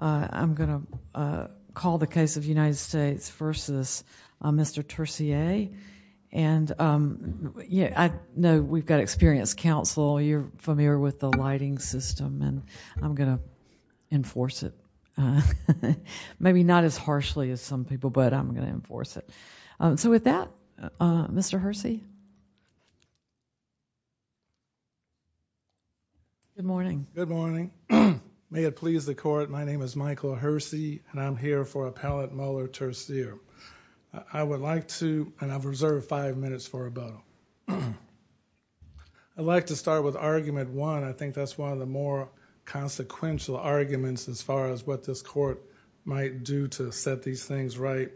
I'm going to call the case of United States v. Mr. Tercier and yeah I know we've got experienced counsel you're familiar with the lighting system and I'm going to enforce it maybe not as harshly as some people but I'm going to enforce it so with that Mr. Hersey good morning good morning may it please the court my name is Michael Hersey and I'm here for appellate Muller Tercier I would like to and I've reserved five minutes for a bow I'd like to start with argument one I think that's one of the more consequential arguments as far as what this court might do to set these things right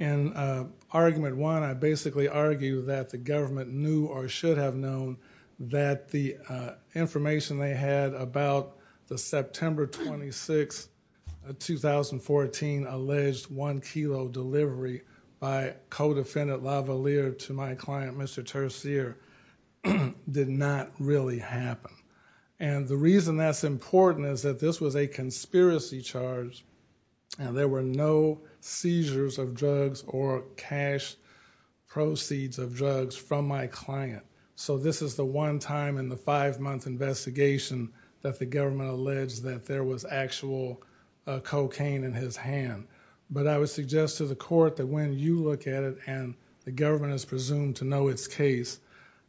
and argument one I basically argue that the government knew or should have known that the information they had about the September 26 2014 alleged one kilo delivery by co-defendant Lavalier to my client Mr. Tercier did not really happen and the reason that's important is that this was a conspiracy charge and there were no seizures of drugs or cash proceeds of drugs from my client so this is the one time in the five-month investigation that the government alleged that there was actual cocaine in his hand but I would suggest to the court that when you look at it and the government is presumed to know its case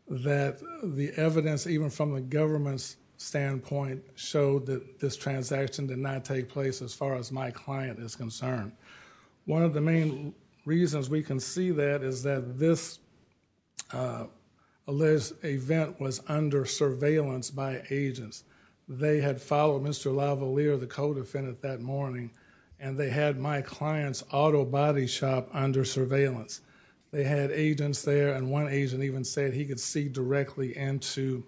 that the evidence even from the government's transaction did not take place as far as my client is concerned one of the main reasons we can see that is that this alleged event was under surveillance by agents they had followed mr. Lavalier the co-defendant that morning and they had my clients auto body shop under surveillance they had agents there and one agent even said he could see directly into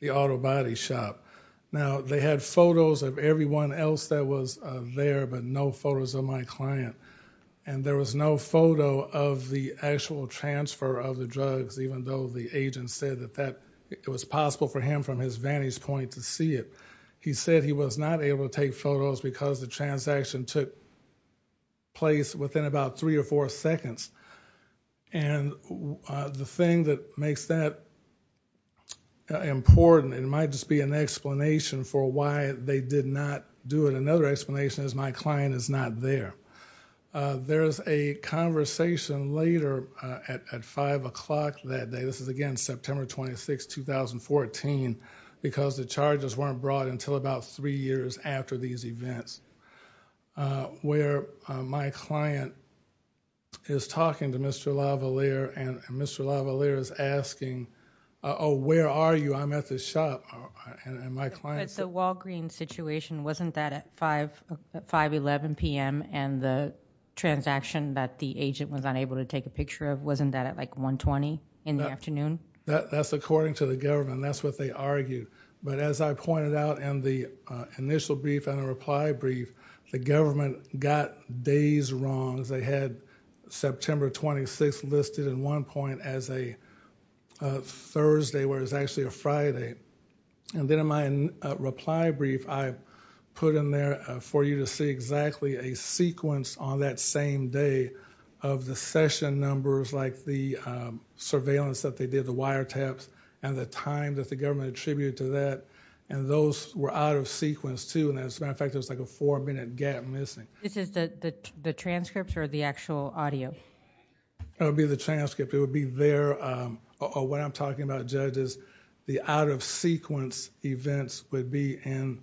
the auto body shop now they had photos of everyone else that was there but no photos of my client and there was no photo of the actual transfer of the drugs even though the agent said that that it was possible for him from his vantage point to see it he said he was not able to take photos because the transaction took place within about three or four seconds and the thing that makes that important it might just be an explanation for why they did not do it another explanation is my client is not there there is a conversation later at 5 o'clock that day this is again September 26 2014 because the charges weren't brought until about three years after these events where my client is talking to mr. Lavalier and the Walgreens situation wasn't that at 5 5 11 p.m. and the transaction that the agent was unable to take a picture of wasn't that at like 120 in the afternoon that's according to the government that's what they argued but as I pointed out and the initial brief and a reply brief the government got days wrong as they had September 26 listed in one point as a Thursday where it's actually a Friday and then in my reply brief I put in there for you to see exactly a sequence on that same day of the session numbers like the surveillance that they did the wiretaps and the time that the government attributed to that and those were out of sequence too and as a matter of fact there's like a four minute gap missing this is the the transcripts or the actual audio that would be the transcript it would be there or what I'm talking about judges the out-of-sequence events would be in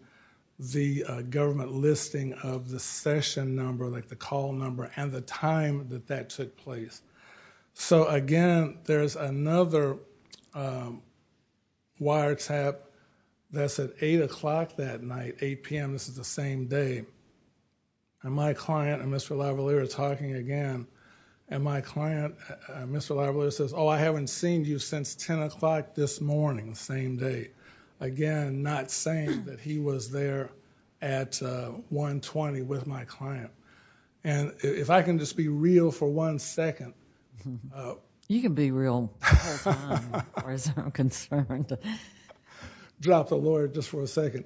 the government listing of the session number like the call number and the time that that took place so again there's another wiretap that's at 8 o'clock that night 8 p.m. this is the same day and my client and mr. Lavalier are talking again and my client mr. Lavalier says oh I haven't seen you since 10 o'clock this morning same day again not saying that he was there at 1 20 with my client and if I can just be real for one second you can be real drop the lawyer just for a second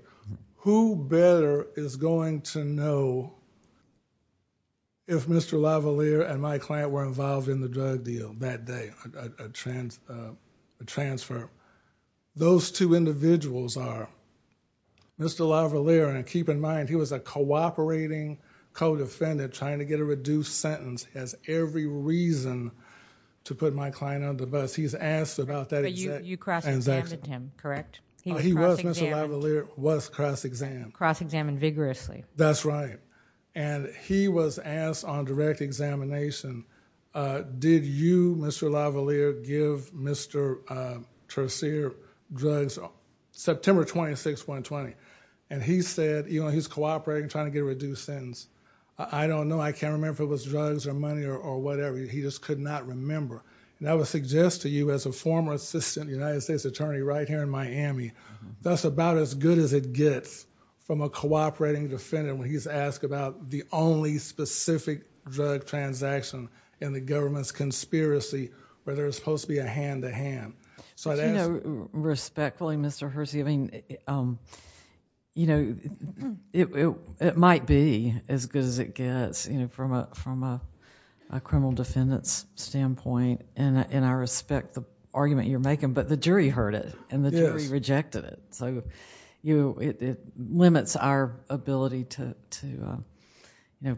who better is going to know if mr. Lavalier and my client were involved in the drug deal that day a transfer those two individuals are mr. Lavalier and keep in mind he was a cooperating co-defendant trying to get a reduced sentence as every reason to put my client on the bus he's asked about that you cross-examined him correct he was mr. Lavalier was cross-examined cross-examined vigorously that's right and he was asked on direct examination did you mr. Lavalier give mr. Tresier drugs on September 26 120 and he said you know he's cooperating trying to get a reduced sentence I don't know I can't remember if it was drugs or money or whatever he just could not remember and I would suggest to you as a former assistant United States attorney right here in Miami that's about as good as it gets from a cooperating defendant when he's asked about the only specific drug transaction and the government's conspiracy where there's supposed to be a hand-to-hand so I don't know respectfully mr. Hersey I mean you know it might be as good as it gets you know from a from a criminal defendants standpoint and and I respect the argument you're making but the jury heard it and the jury rejected it so you know it limits our ability to to you know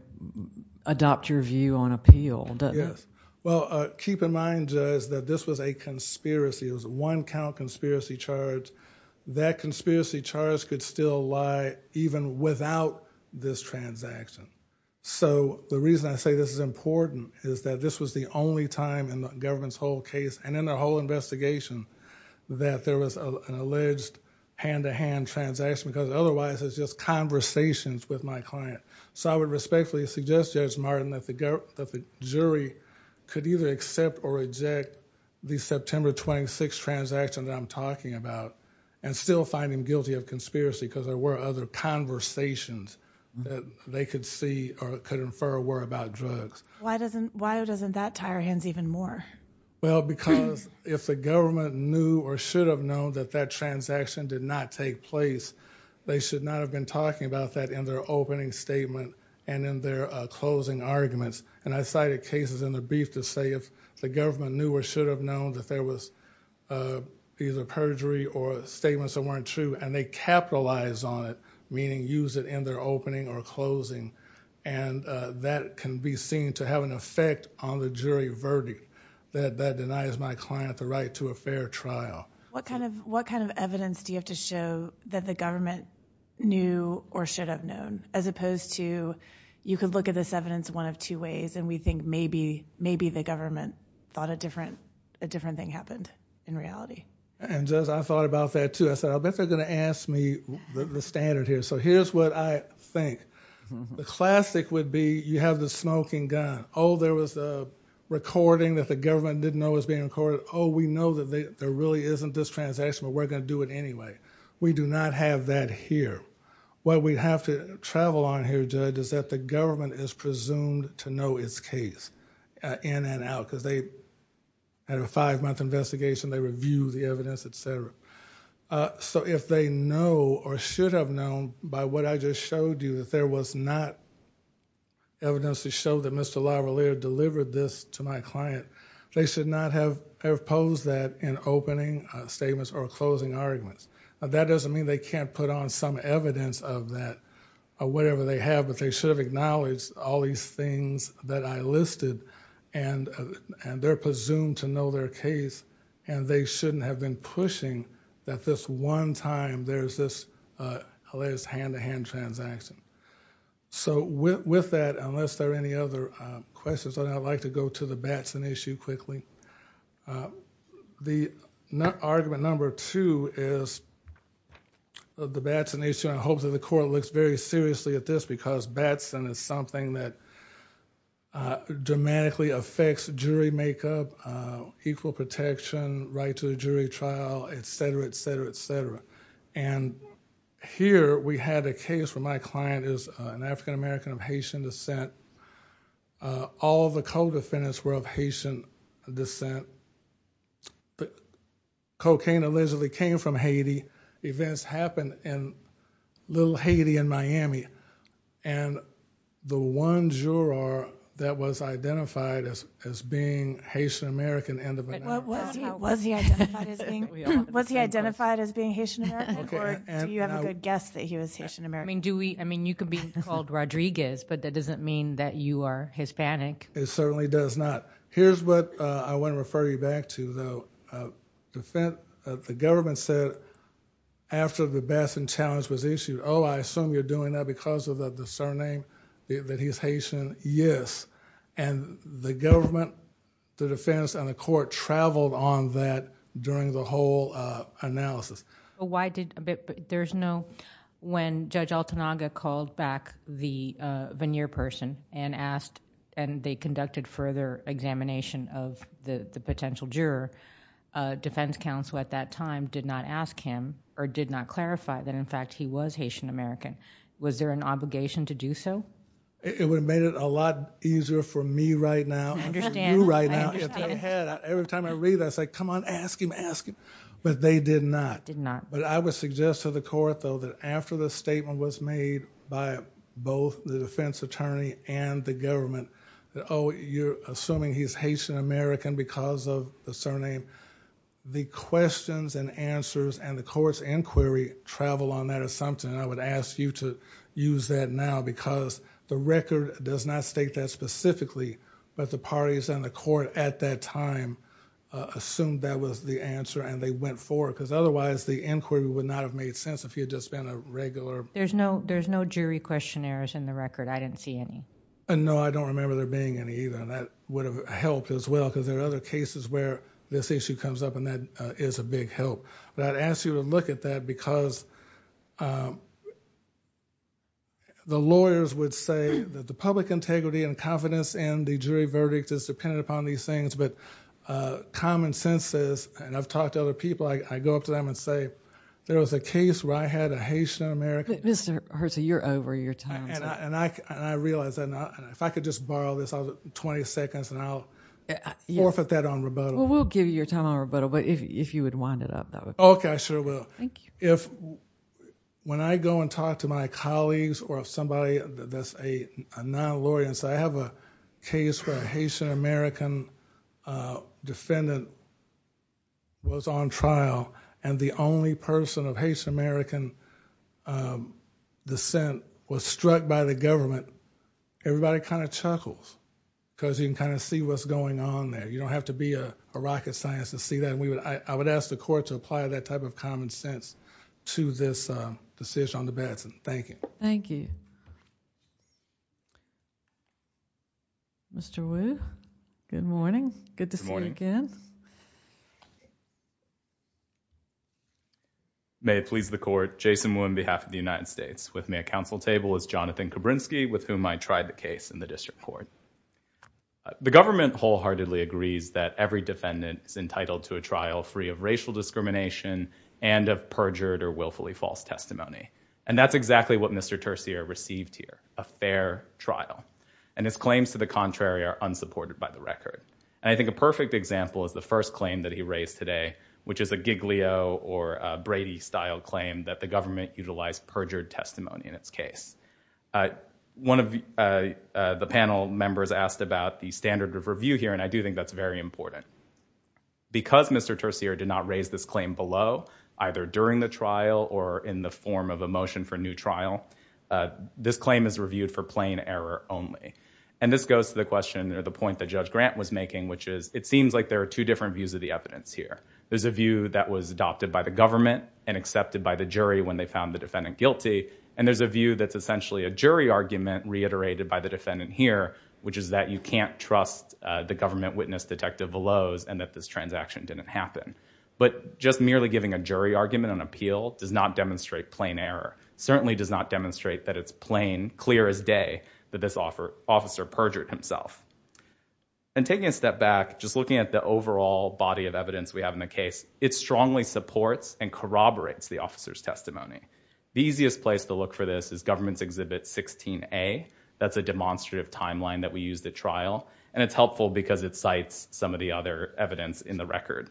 adopt your view on appeal yes well keep in mind is that this was a conspiracy it was one count conspiracy charge that conspiracy charge could still lie even without this transaction so the reason I say this is important is that this was the only time in the government's whole case and in their whole investigation that there was an hand-to-hand transaction because otherwise it's just conversations with my client so I would respectfully suggest judge Martin that the girl that the jury could either accept or reject the September 26 transaction that I'm talking about and still find him guilty of conspiracy because there were other conversations that they could see or could infer were about drugs why doesn't why doesn't that tie our hands even more well because if the government knew or should have known that that transaction did not take place they should not have been talking about that in their opening statement and in their closing arguments and I cited cases in the brief to say if the government knew or should have known that there was either perjury or statements that weren't true and they capitalized on it meaning use it in their opening or closing and that can be seen to have an effect on the jury verdict that that denies my client the fair trial what kind of what kind of evidence do you have to show that the government knew or should have known as opposed to you could look at this evidence one of two ways and we think maybe maybe the government thought a different a different thing happened in reality and just I thought about that too I said I bet they're gonna ask me the standard here so here's what I think the classic would be you have the smoking gun oh there was a recording that the government didn't know is being recorded oh we know that they there really isn't this transaction but we're going to do it anyway we do not have that here what we have to travel on here judge is that the government is presumed to know its case in and out because they had a five-month investigation they review the evidence etc so if they know or should have known by what I just showed you that there was not evidence to show that mr. Lavalliere delivered this to my client they should not have posed that in opening statements or closing arguments that doesn't mean they can't put on some evidence of that whatever they have but they should have acknowledged all these things that I listed and and they're presumed to know their case and they shouldn't have been pushing that this one time there's this hilarious hand-to-hand transaction so with that unless there are any other questions I'd like to go to the Batson issue quickly the argument number two is the Batson issue I hope that the court looks very seriously at this because Batson is something that dramatically affects jury makeup equal protection right to the jury trial etc etc etc and here we had a case where my client is an African American of Haitian descent all the co-defendants were of Haitian descent but cocaine allegedly came from Haiti events happened in little Haiti in Miami and the one juror that was identified as I mean do we I mean you could be called Rodriguez but that doesn't mean that you are Hispanic it certainly does not here's what I wouldn't refer you back to though the government said after the Batson challenge was issued oh I assume you're doing that because of the surname that he's Haitian yes and the government the defense and the court traveled on that during the whole analysis why did there's no when judge Altanaga called back the veneer person and asked and they conducted further examination of the potential juror defense counsel at that time did not ask him or did not clarify that in fact he was Haitian American was there an obligation to do so it would have made it a lot easier for me right now understand right now every time I read I say come on ask him ask him but they did not but I would suggest to the court though that after the statement was made by both the defense attorney and the government oh you're assuming he's Haitian American because of the surname the questions and answers and the courts inquiry travel on that assumption I would ask you to use that now because the record does not state that specifically but the parties and the otherwise the inquiry would not have made sense if you had just been a regular there's no there's no jury questionnaires in the record I didn't see any and no I don't remember there being any even that would have helped as well because there are other cases where this issue comes up and that is a big help but I'd ask you to look at that because the lawyers would say that the public integrity and confidence and the jury verdict is dependent upon these things but common sense is and I've talked to other people I go up to them and say there was a case where I had a Haitian American mr. Hurt so you're over your time and I and I realize that if I could just borrow this other 20 seconds and I'll yeah forfeit that on rebuttal we'll give you your time on rebuttal but if you would wind it up that would okay I sure will thank you if when I go and talk to my colleagues or if somebody that's a non-lawyer and so I have a case where a Haitian American defendant was on trial and the only person of Haitian American dissent was struck by the government everybody kind of chuckles because you can kind of see what's going on there you don't have to be a rocket science to see that we would I would ask the court to apply that type of common sense to this decision on the Batson thank you. Thank you. Mr. Wu, good morning. Good to see you again. May it please the court, Jason Wu on behalf of the United States. With me at council table is Jonathan Kabrinsky with whom I tried the case in the district court. The government wholeheartedly agrees that every defendant is entitled to a trial free of racial discrimination and of perjured or willfully false testimony and that's exactly what Mr. Tercia received here a fair trial and his claims to the contrary are unsupported by the record and I think a perfect example is the first claim that he raised today which is a Giglio or Brady style claim that the government utilized perjured testimony in its case. One of the panel members asked about the standard of review here and I do think that's very important. Because Mr. Tercia did not raise this claim below either during the trial or in the form of a motion for new trial this claim is reviewed for plain error only and this goes to the question or the point that Judge Grant was making which is it seems like there are two different views of the evidence here. There's a view that was adopted by the government and accepted by the jury when they found the defendant guilty and there's a view that's essentially a jury argument reiterated by the defendant here which is that you can't trust the government witness detective below and that this transaction didn't happen. But just merely giving a jury argument on appeal does not demonstrate plain error. Certainly does not demonstrate that it's plain clear as day that this offer officer perjured himself. And taking a step back just looking at the overall body of evidence we have in the case it strongly supports and corroborates the officer's testimony. The easiest place to look for this is government's exhibit 16A. That's a demonstrative timeline that we used at trial and it's helpful because it cites some of the other evidence in the record.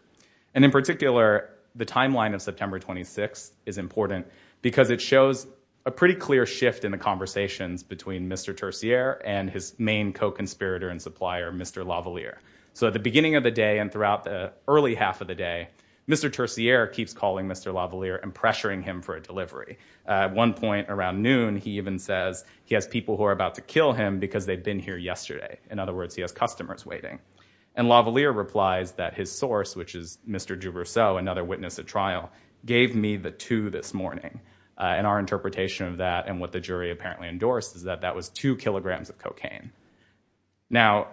And in particular the timeline of September 26 is important because it shows a pretty clear shift in the conversations between Mr. Tercier and his main co-conspirator and supplier Mr. Lavalier. So at the beginning of the day and throughout the early half of the day Mr. Tercier keeps calling Mr. Lavalier and pressuring him for a delivery. At one point around noon he even says he has people who are about to kill him because they've been here yesterday. In other words he has customers waiting. And Lavalier replies that his source which is Mr. DuRousseau another witness at trial gave me the two this morning. And our interpretation of that and what the jury apparently endorsed is that that was two kilograms of cocaine. Now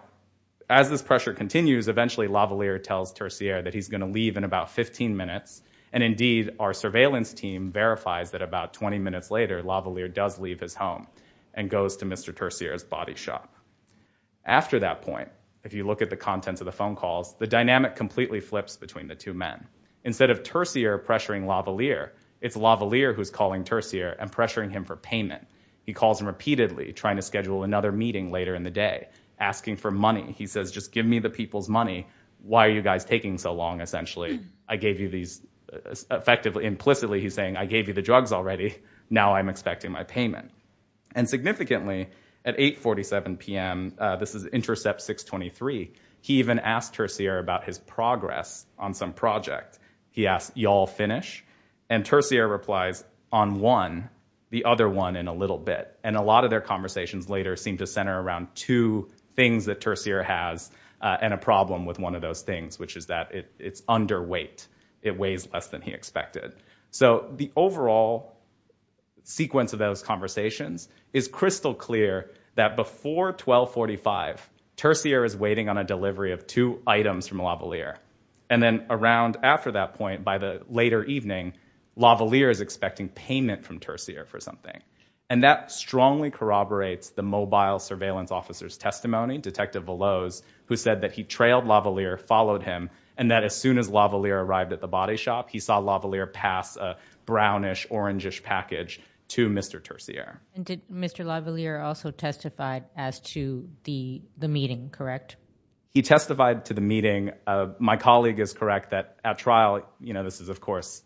as this pressure continues eventually Lavalier tells Tercier that he's going to leave in about 15 minutes and indeed our verifies that about 20 minutes later Lavalier does leave his home and goes to Mr. Tercier's body shop. After that point if you look at the contents of the phone calls the dynamic completely flips between the two men. Instead of Tercier pressuring Lavalier it's Lavalier who's calling Tercier and pressuring him for payment. He calls him repeatedly trying to schedule another meeting later in the day asking for money. He says just give me the people's money. Why are you guys taking so long essentially? I gave you these effectively implicitly he's saying I gave you the drugs already now I'm expecting my payment. And significantly at 847 p.m. this is intercept 623 he even asked Tercier about his progress on some project. He asked y'all finish and Tercier replies on one the other one in a little bit. And a lot of their conversations later seem to center around two things that Tercier has and a problem with one of those things which is that it's underweight. It weighs less than he expected. So the overall sequence of those conversations is crystal clear that before 1245 Tercier is waiting on a delivery of two items from Lavalier. And then around after that point by the later evening Lavalier is expecting payment from Tercier for something. And that strongly corroborates the mobile surveillance officer's testimony Detective Veloz who said that he trailed Lavalier followed him and that as soon as Lavalier arrived at the body shop he saw Lavalier pass a brownish orangish package to Mr. Tercier. Did Mr. Lavalier also testified as to the the meeting correct? He testified to the meeting my colleague is correct that at trial you know this is of course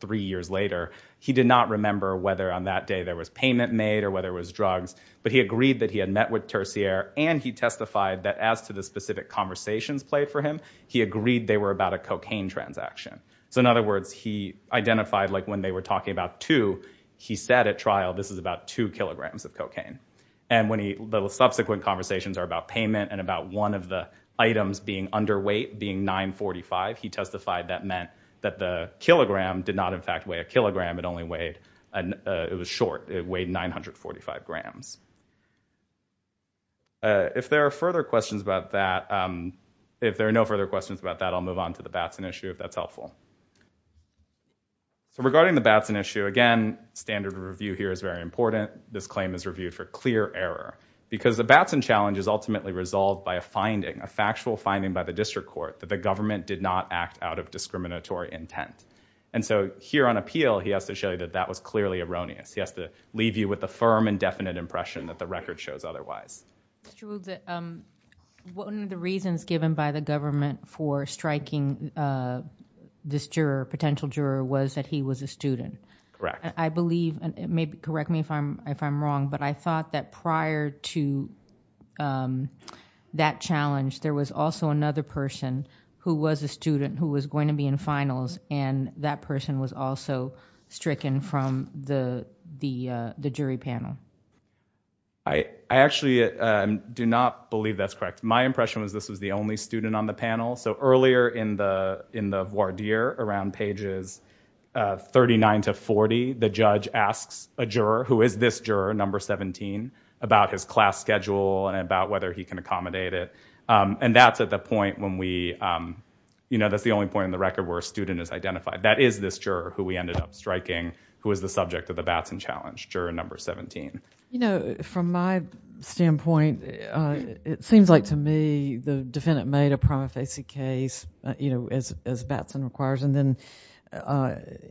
three years later he did not remember whether on that day there was payment made or whether it was drugs but he agreed that he had met with Tercier and he testified that as to the specific conversations played for him he agreed they were about a cocaine transaction. So in other words he identified like when they were talking about two he said at trial this is about two kilograms of cocaine. And when he the subsequent conversations are about payment and about one of the items being underweight being 945 he testified that meant that the kilogram did not in fact weigh a If there are further questions about that if there are no further questions about that I'll move on to the Batson issue if that's helpful. So regarding the Batson issue again standard review here is very important this claim is reviewed for clear error because the Batson challenge is ultimately resolved by a finding a factual finding by the district court that the government did not act out of discriminatory intent and so here on appeal he has to show you that that was clearly erroneous he has to leave you with a firm and definite impression that the record shows otherwise. One of the reasons given by the government for striking this juror potential juror was that he was a student. Correct. I believe it may be correct me if I'm if I'm wrong but I thought that prior to that challenge there was also another person who was a student who was going to be in finals and that person was also stricken from the jury panel. I actually do not believe that's correct my impression was this was the only student on the panel so earlier in the in the voir dire around pages 39 to 40 the judge asks a juror who is this juror number 17 about his class schedule and about whether he can accommodate it and that's at the point when we you know that's the only point in the record where a student is object of the Batson challenge juror number 17. You know from my standpoint it seems like to me the defendant made a prima facie case you know as Batson requires and then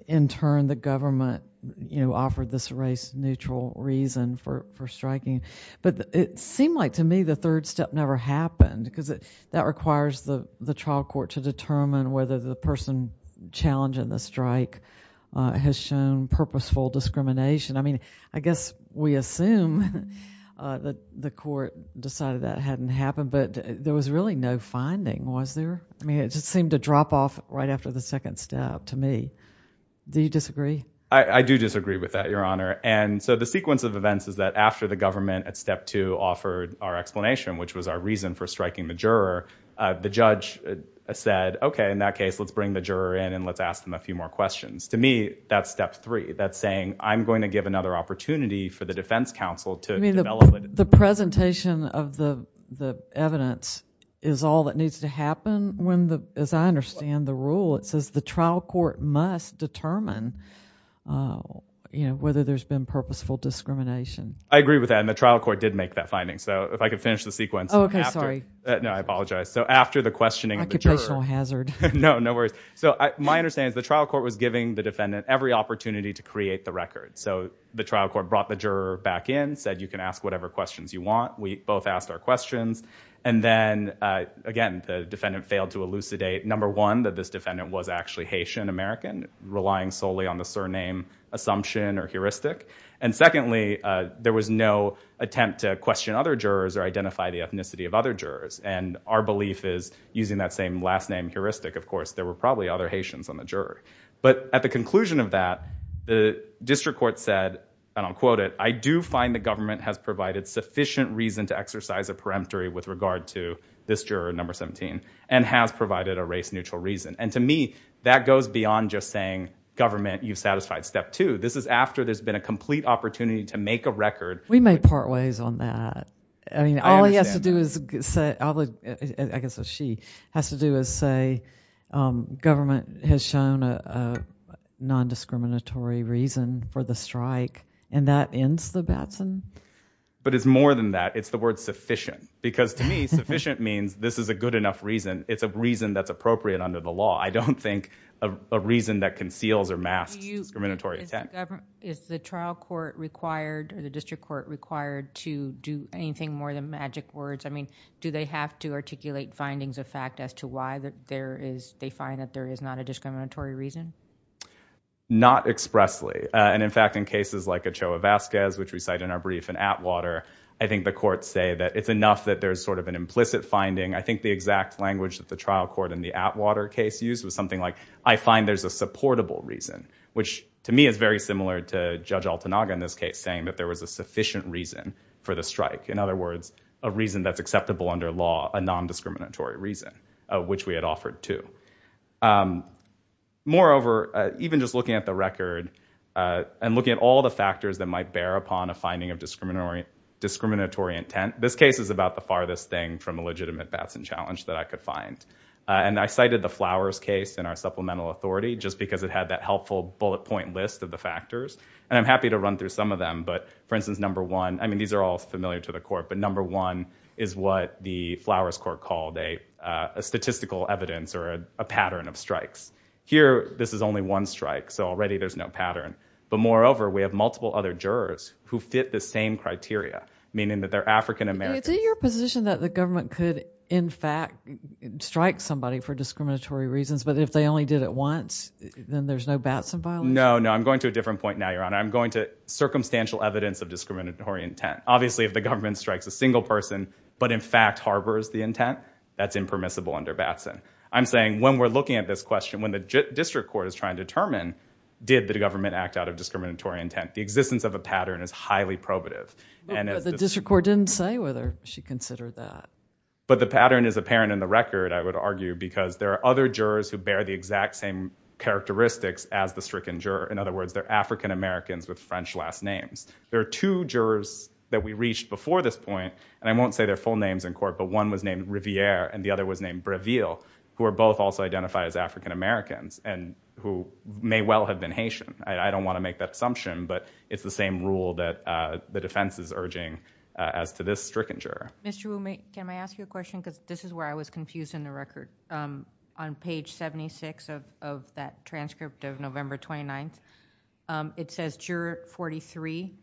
in turn the government you know offered this race neutral reason for for striking but it seemed like to me the third step never happened because it that requires the the trial court to determine whether the person challenging the strike has shown purposeful discrimination. I mean I guess we assume that the court decided that hadn't happened but there was really no finding was there I mean it just seemed to drop off right after the second step to me. Do you disagree? I do disagree with that your honor and so the sequence of events is that after the government at step two offered our explanation which was our reason for striking the juror the judge said okay in that case let's bring the juror in and let's ask them a few more questions. To me that's step three that's saying I'm going to give another opportunity for the defense counsel to develop it. The presentation of the the evidence is all that needs to happen when the as I understand the rule it says the trial court must determine you know whether there's been purposeful discrimination. I agree with that and the trial court did make that finding so if I could finish the sequence. Okay sorry. No I apologize so after the questioning of the juror. Occupational hazard. No no worries so my understanding is the trial court was giving the defendant every opportunity to create the record so the trial court brought the juror back in said you can ask whatever questions you want we both asked our questions and then again the defendant failed to elucidate number one that this defendant was actually Haitian American relying solely on the surname assumption or heuristic and secondly there was no attempt to question other jurors or identify the ethnicity of other jurors and our belief is using that same last name heuristic of course there were probably other Haitians on the juror but at the conclusion of that the district court said and I'll quote it I do find the government has provided sufficient reason to exercise a peremptory with regard to this juror number 17 and has provided a race-neutral reason and to me that goes beyond just saying government you've satisfied step two this is after there's been a complete opportunity to make a record. We may part ways on that I mean I guess she has to do is say government has shown a non-discriminatory reason for the strike and that ends the Batson? But it's more than that it's the word sufficient because to me sufficient means this is a good enough reason it's a reason that's appropriate under the law I don't think a reason that conceals or masks discriminatory attempt. Is the trial court required or the district courts I mean do they have to articulate findings of fact as to why that there is they find that there is not a discriminatory reason? Not expressly and in fact in cases like Ochoa Vasquez which we cite in our brief in Atwater I think the courts say that it's enough that there's sort of an implicit finding I think the exact language that the trial court in the Atwater case used was something like I find there's a supportable reason which to me is very similar to Judge Altanaga in this case saying that there was a reason that's acceptable under law a non-discriminatory reason which we had offered to. Moreover even just looking at the record and looking at all the factors that might bear upon a finding of discriminatory intent this case is about the farthest thing from a legitimate Batson challenge that I could find and I cited the Flowers case in our supplemental authority just because it had that helpful bullet point list of the factors and I'm happy to run through some of them but for instance number one I mean these are all familiar to the court but number one is what the Flowers court called a statistical evidence or a pattern of strikes. Here this is only one strike so already there's no pattern but moreover we have multiple other jurors who fit the same criteria meaning that they're African-American. Is it your position that the government could in fact strike somebody for discriminatory reasons but if they only did it once then there's no Batson violation? No no I'm going to a different point now your honor I'm going to circumstantial evidence of discriminatory intent obviously if the government strikes a single person but in fact harbors the intent that's impermissible under Batson. I'm saying when we're looking at this question when the district court is trying to determine did the government act out of discriminatory intent the existence of a pattern is highly probative and the district court didn't say whether she considered that but the pattern is apparent in the record I would argue because there are other jurors who bear the exact same characteristics as the stricken juror in other words they're African-Americans with French last names. There are two jurors that we reached before this point and I won't say their full names in court but one was named Riviere and the other was named Breville who are both also identified as African-Americans and who may well have been Haitian. I don't want to make that assumption but it's the same rule that the defense is urging as to this stricken juror. Mr. Wu can I ask you a question because this is where I was confused in the record on page 76 of that transcript of November 29th it says juror 43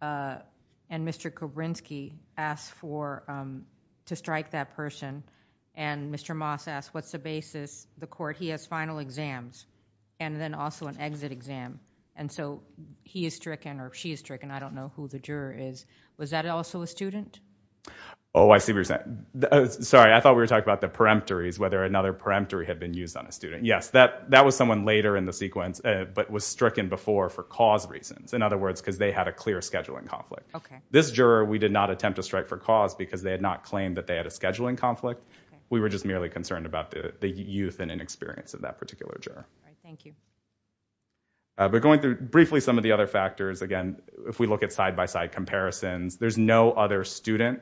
and Mr. Kobrynski asked for to strike that person and Mr. Moss asked what's the basis the court he has final exams and then also an exit exam and so he is stricken or she is stricken I don't know who the juror is was that also a student? Oh I see what you're saying. Sorry I thought we were talking about the peremptories whether another peremptory had been used on a student. Yes that that was someone later in the sequence but was stricken before for cause reasons in other words because they had a clear scheduling conflict. This juror we did not attempt to strike for cause because they had not claimed that they had a scheduling conflict we were just merely concerned about the youth and inexperience of that particular juror. But going through briefly some of the other factors again if we look at side-by-side comparisons there's no other student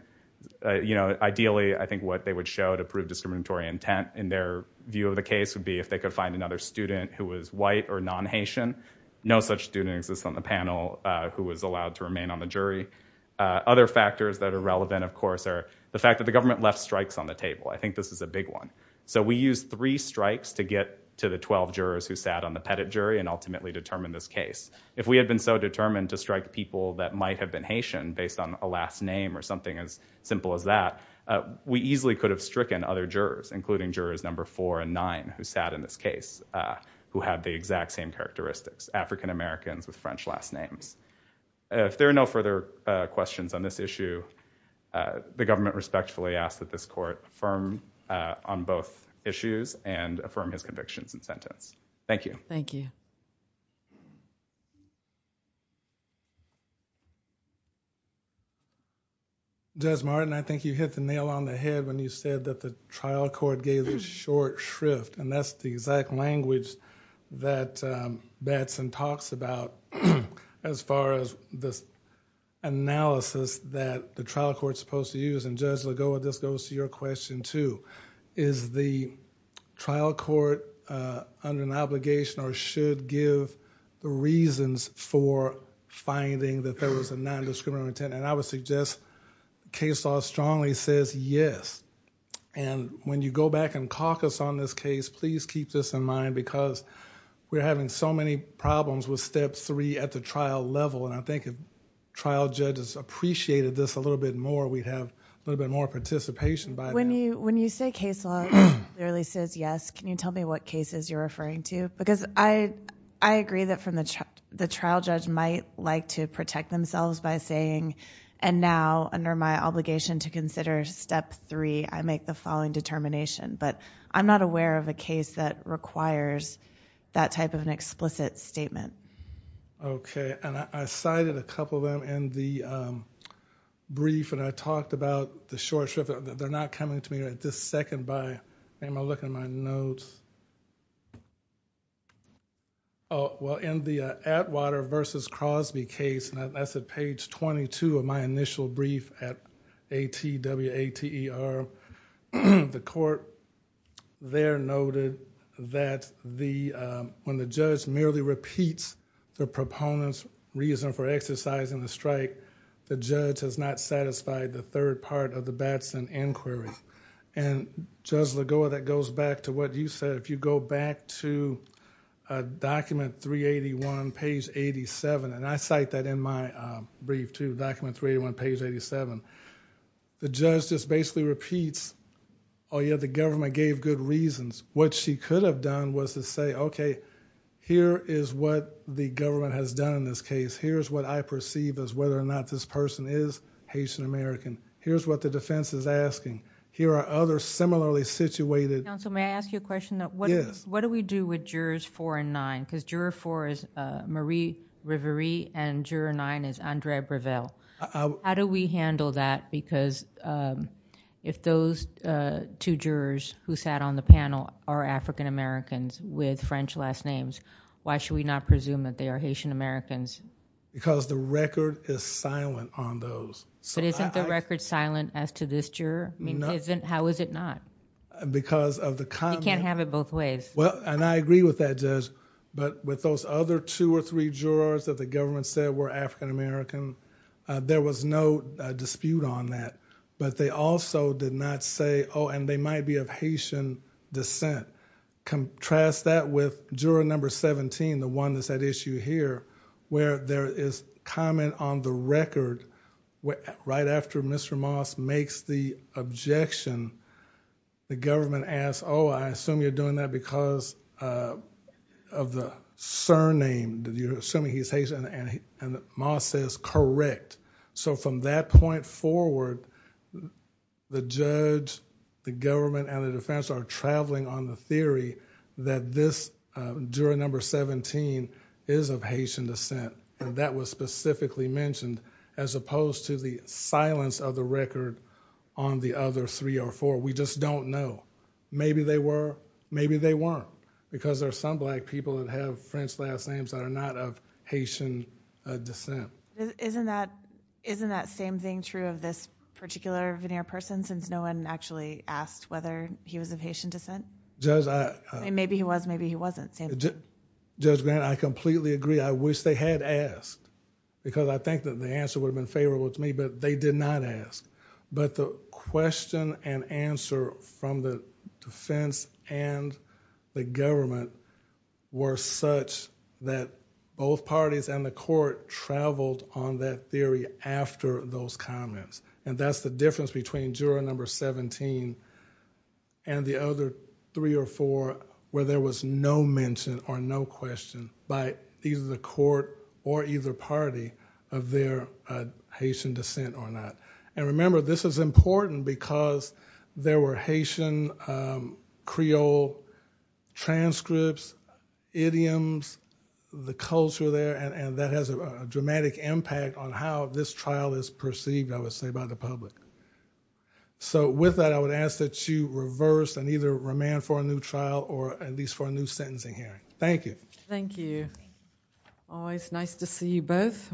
you know ideally I think what they would show to their view of the case would be if they could find another student who was white or non-Haitian no such student exists on the panel who was allowed to remain on the jury. Other factors that are relevant of course are the fact that the government left strikes on the table I think this is a big one so we use three strikes to get to the 12 jurors who sat on the Pettit jury and ultimately determine this case. If we had been so determined to strike people that might have been Haitian based on a last name or something as simple as that we easily could have stricken other jurors including jurors number four and nine who sat in this case who had the exact same characteristics African-Americans with French last names. If there are no further questions on this issue the government respectfully asks that this court affirm on both issues and affirm his convictions and sentence. Thank you. Judge Martin I think you hit the nail on the head when you said that the trial court gave this short shrift and that's the exact language that Batson talks about as far as this analysis that the trial court supposed to use and Judge give the reasons for finding that there was a non-discriminatory intent and I would suggest case law strongly says yes and when you go back and caucus on this case please keep this in mind because we're having so many problems with step three at the trial level and I think if trial judges appreciated this a little bit more we'd have a little bit more participation. When you when you say case law clearly says yes can you tell me what cases you're referring to because I I agree that from the trial judge might like to protect themselves by saying and now under my obligation to consider step three I make the following determination but I'm not aware of a case that requires that type of an explicit statement. Okay and I cited a couple of them in the brief and I talked about the short shrift they're not coming to me at this second by am I looking at my notes oh well in the Atwater versus Crosby case and that's at page 22 of my initial brief at ATWATER the court there noted that the when the judge merely repeats the proponents reason for exercising the strike the judge has not satisfied the third part of the Batson inquiry and Judge Lagoa that goes back to what you said if you go back to a document 381 page 87 and I cite that in my brief to document 381 page 87 the judge just basically repeats oh yeah the government gave good reasons what she could have done was to say okay here is what the government has done in this case here's what I perceive as whether or not this person is Haitian-American here's what the defense is asking here are other similarly situated. Counsel may I ask you a question that what is what do we do with jurors four and nine because juror four is Marie Rivere and juror nine is Andrea Breville how do we handle that because if those two jurors who sat on the panel are African Americans with French last names why should we not presume that they are Haitian Americans? Because the record silent as to this juror? No. How is it not? Because of the comment. You can't have it both ways. Well and I agree with that judge but with those other two or three jurors that the government said were African American there was no dispute on that but they also did not say oh and they might be of Haitian descent. Contrast that with juror number 17 the one that's at issue here where there is comment on the record right after Mr. Moss makes the objection the government asks oh I assume you're doing that because of the surname did you're assuming he's Haitian and Moss says correct so from that point forward the judge the government and the defense are traveling on the theory that this juror number 17 is of Haitian descent as opposed to the silence of the record on the other three or four we just don't know maybe they were maybe they weren't because there's some black people that have French last names that are not of Haitian descent. Isn't that isn't that same thing true of this particular veneer person since no one actually asked whether he was of Haitian descent? Maybe he was maybe he wasn't. Judge Grant I completely agree I wish they had asked because I think that the answer would have been favorable to me but they did not ask but the question and answer from the defense and the government were such that both parties and the court traveled on that theory after those comments and that's the difference between juror number 17 and the other three or four where there was no mention or no question by either the court or either party of their Haitian descent or not and remember this is important because there were Haitian Creole transcripts idioms the culture there and that has a dramatic impact on how this trial is perceived I would say by the public. So with that I would ask that you reverse and either remand for a new trial or at least for a new sentencing hearing. Thank you. Thank you. Always nice to see you both.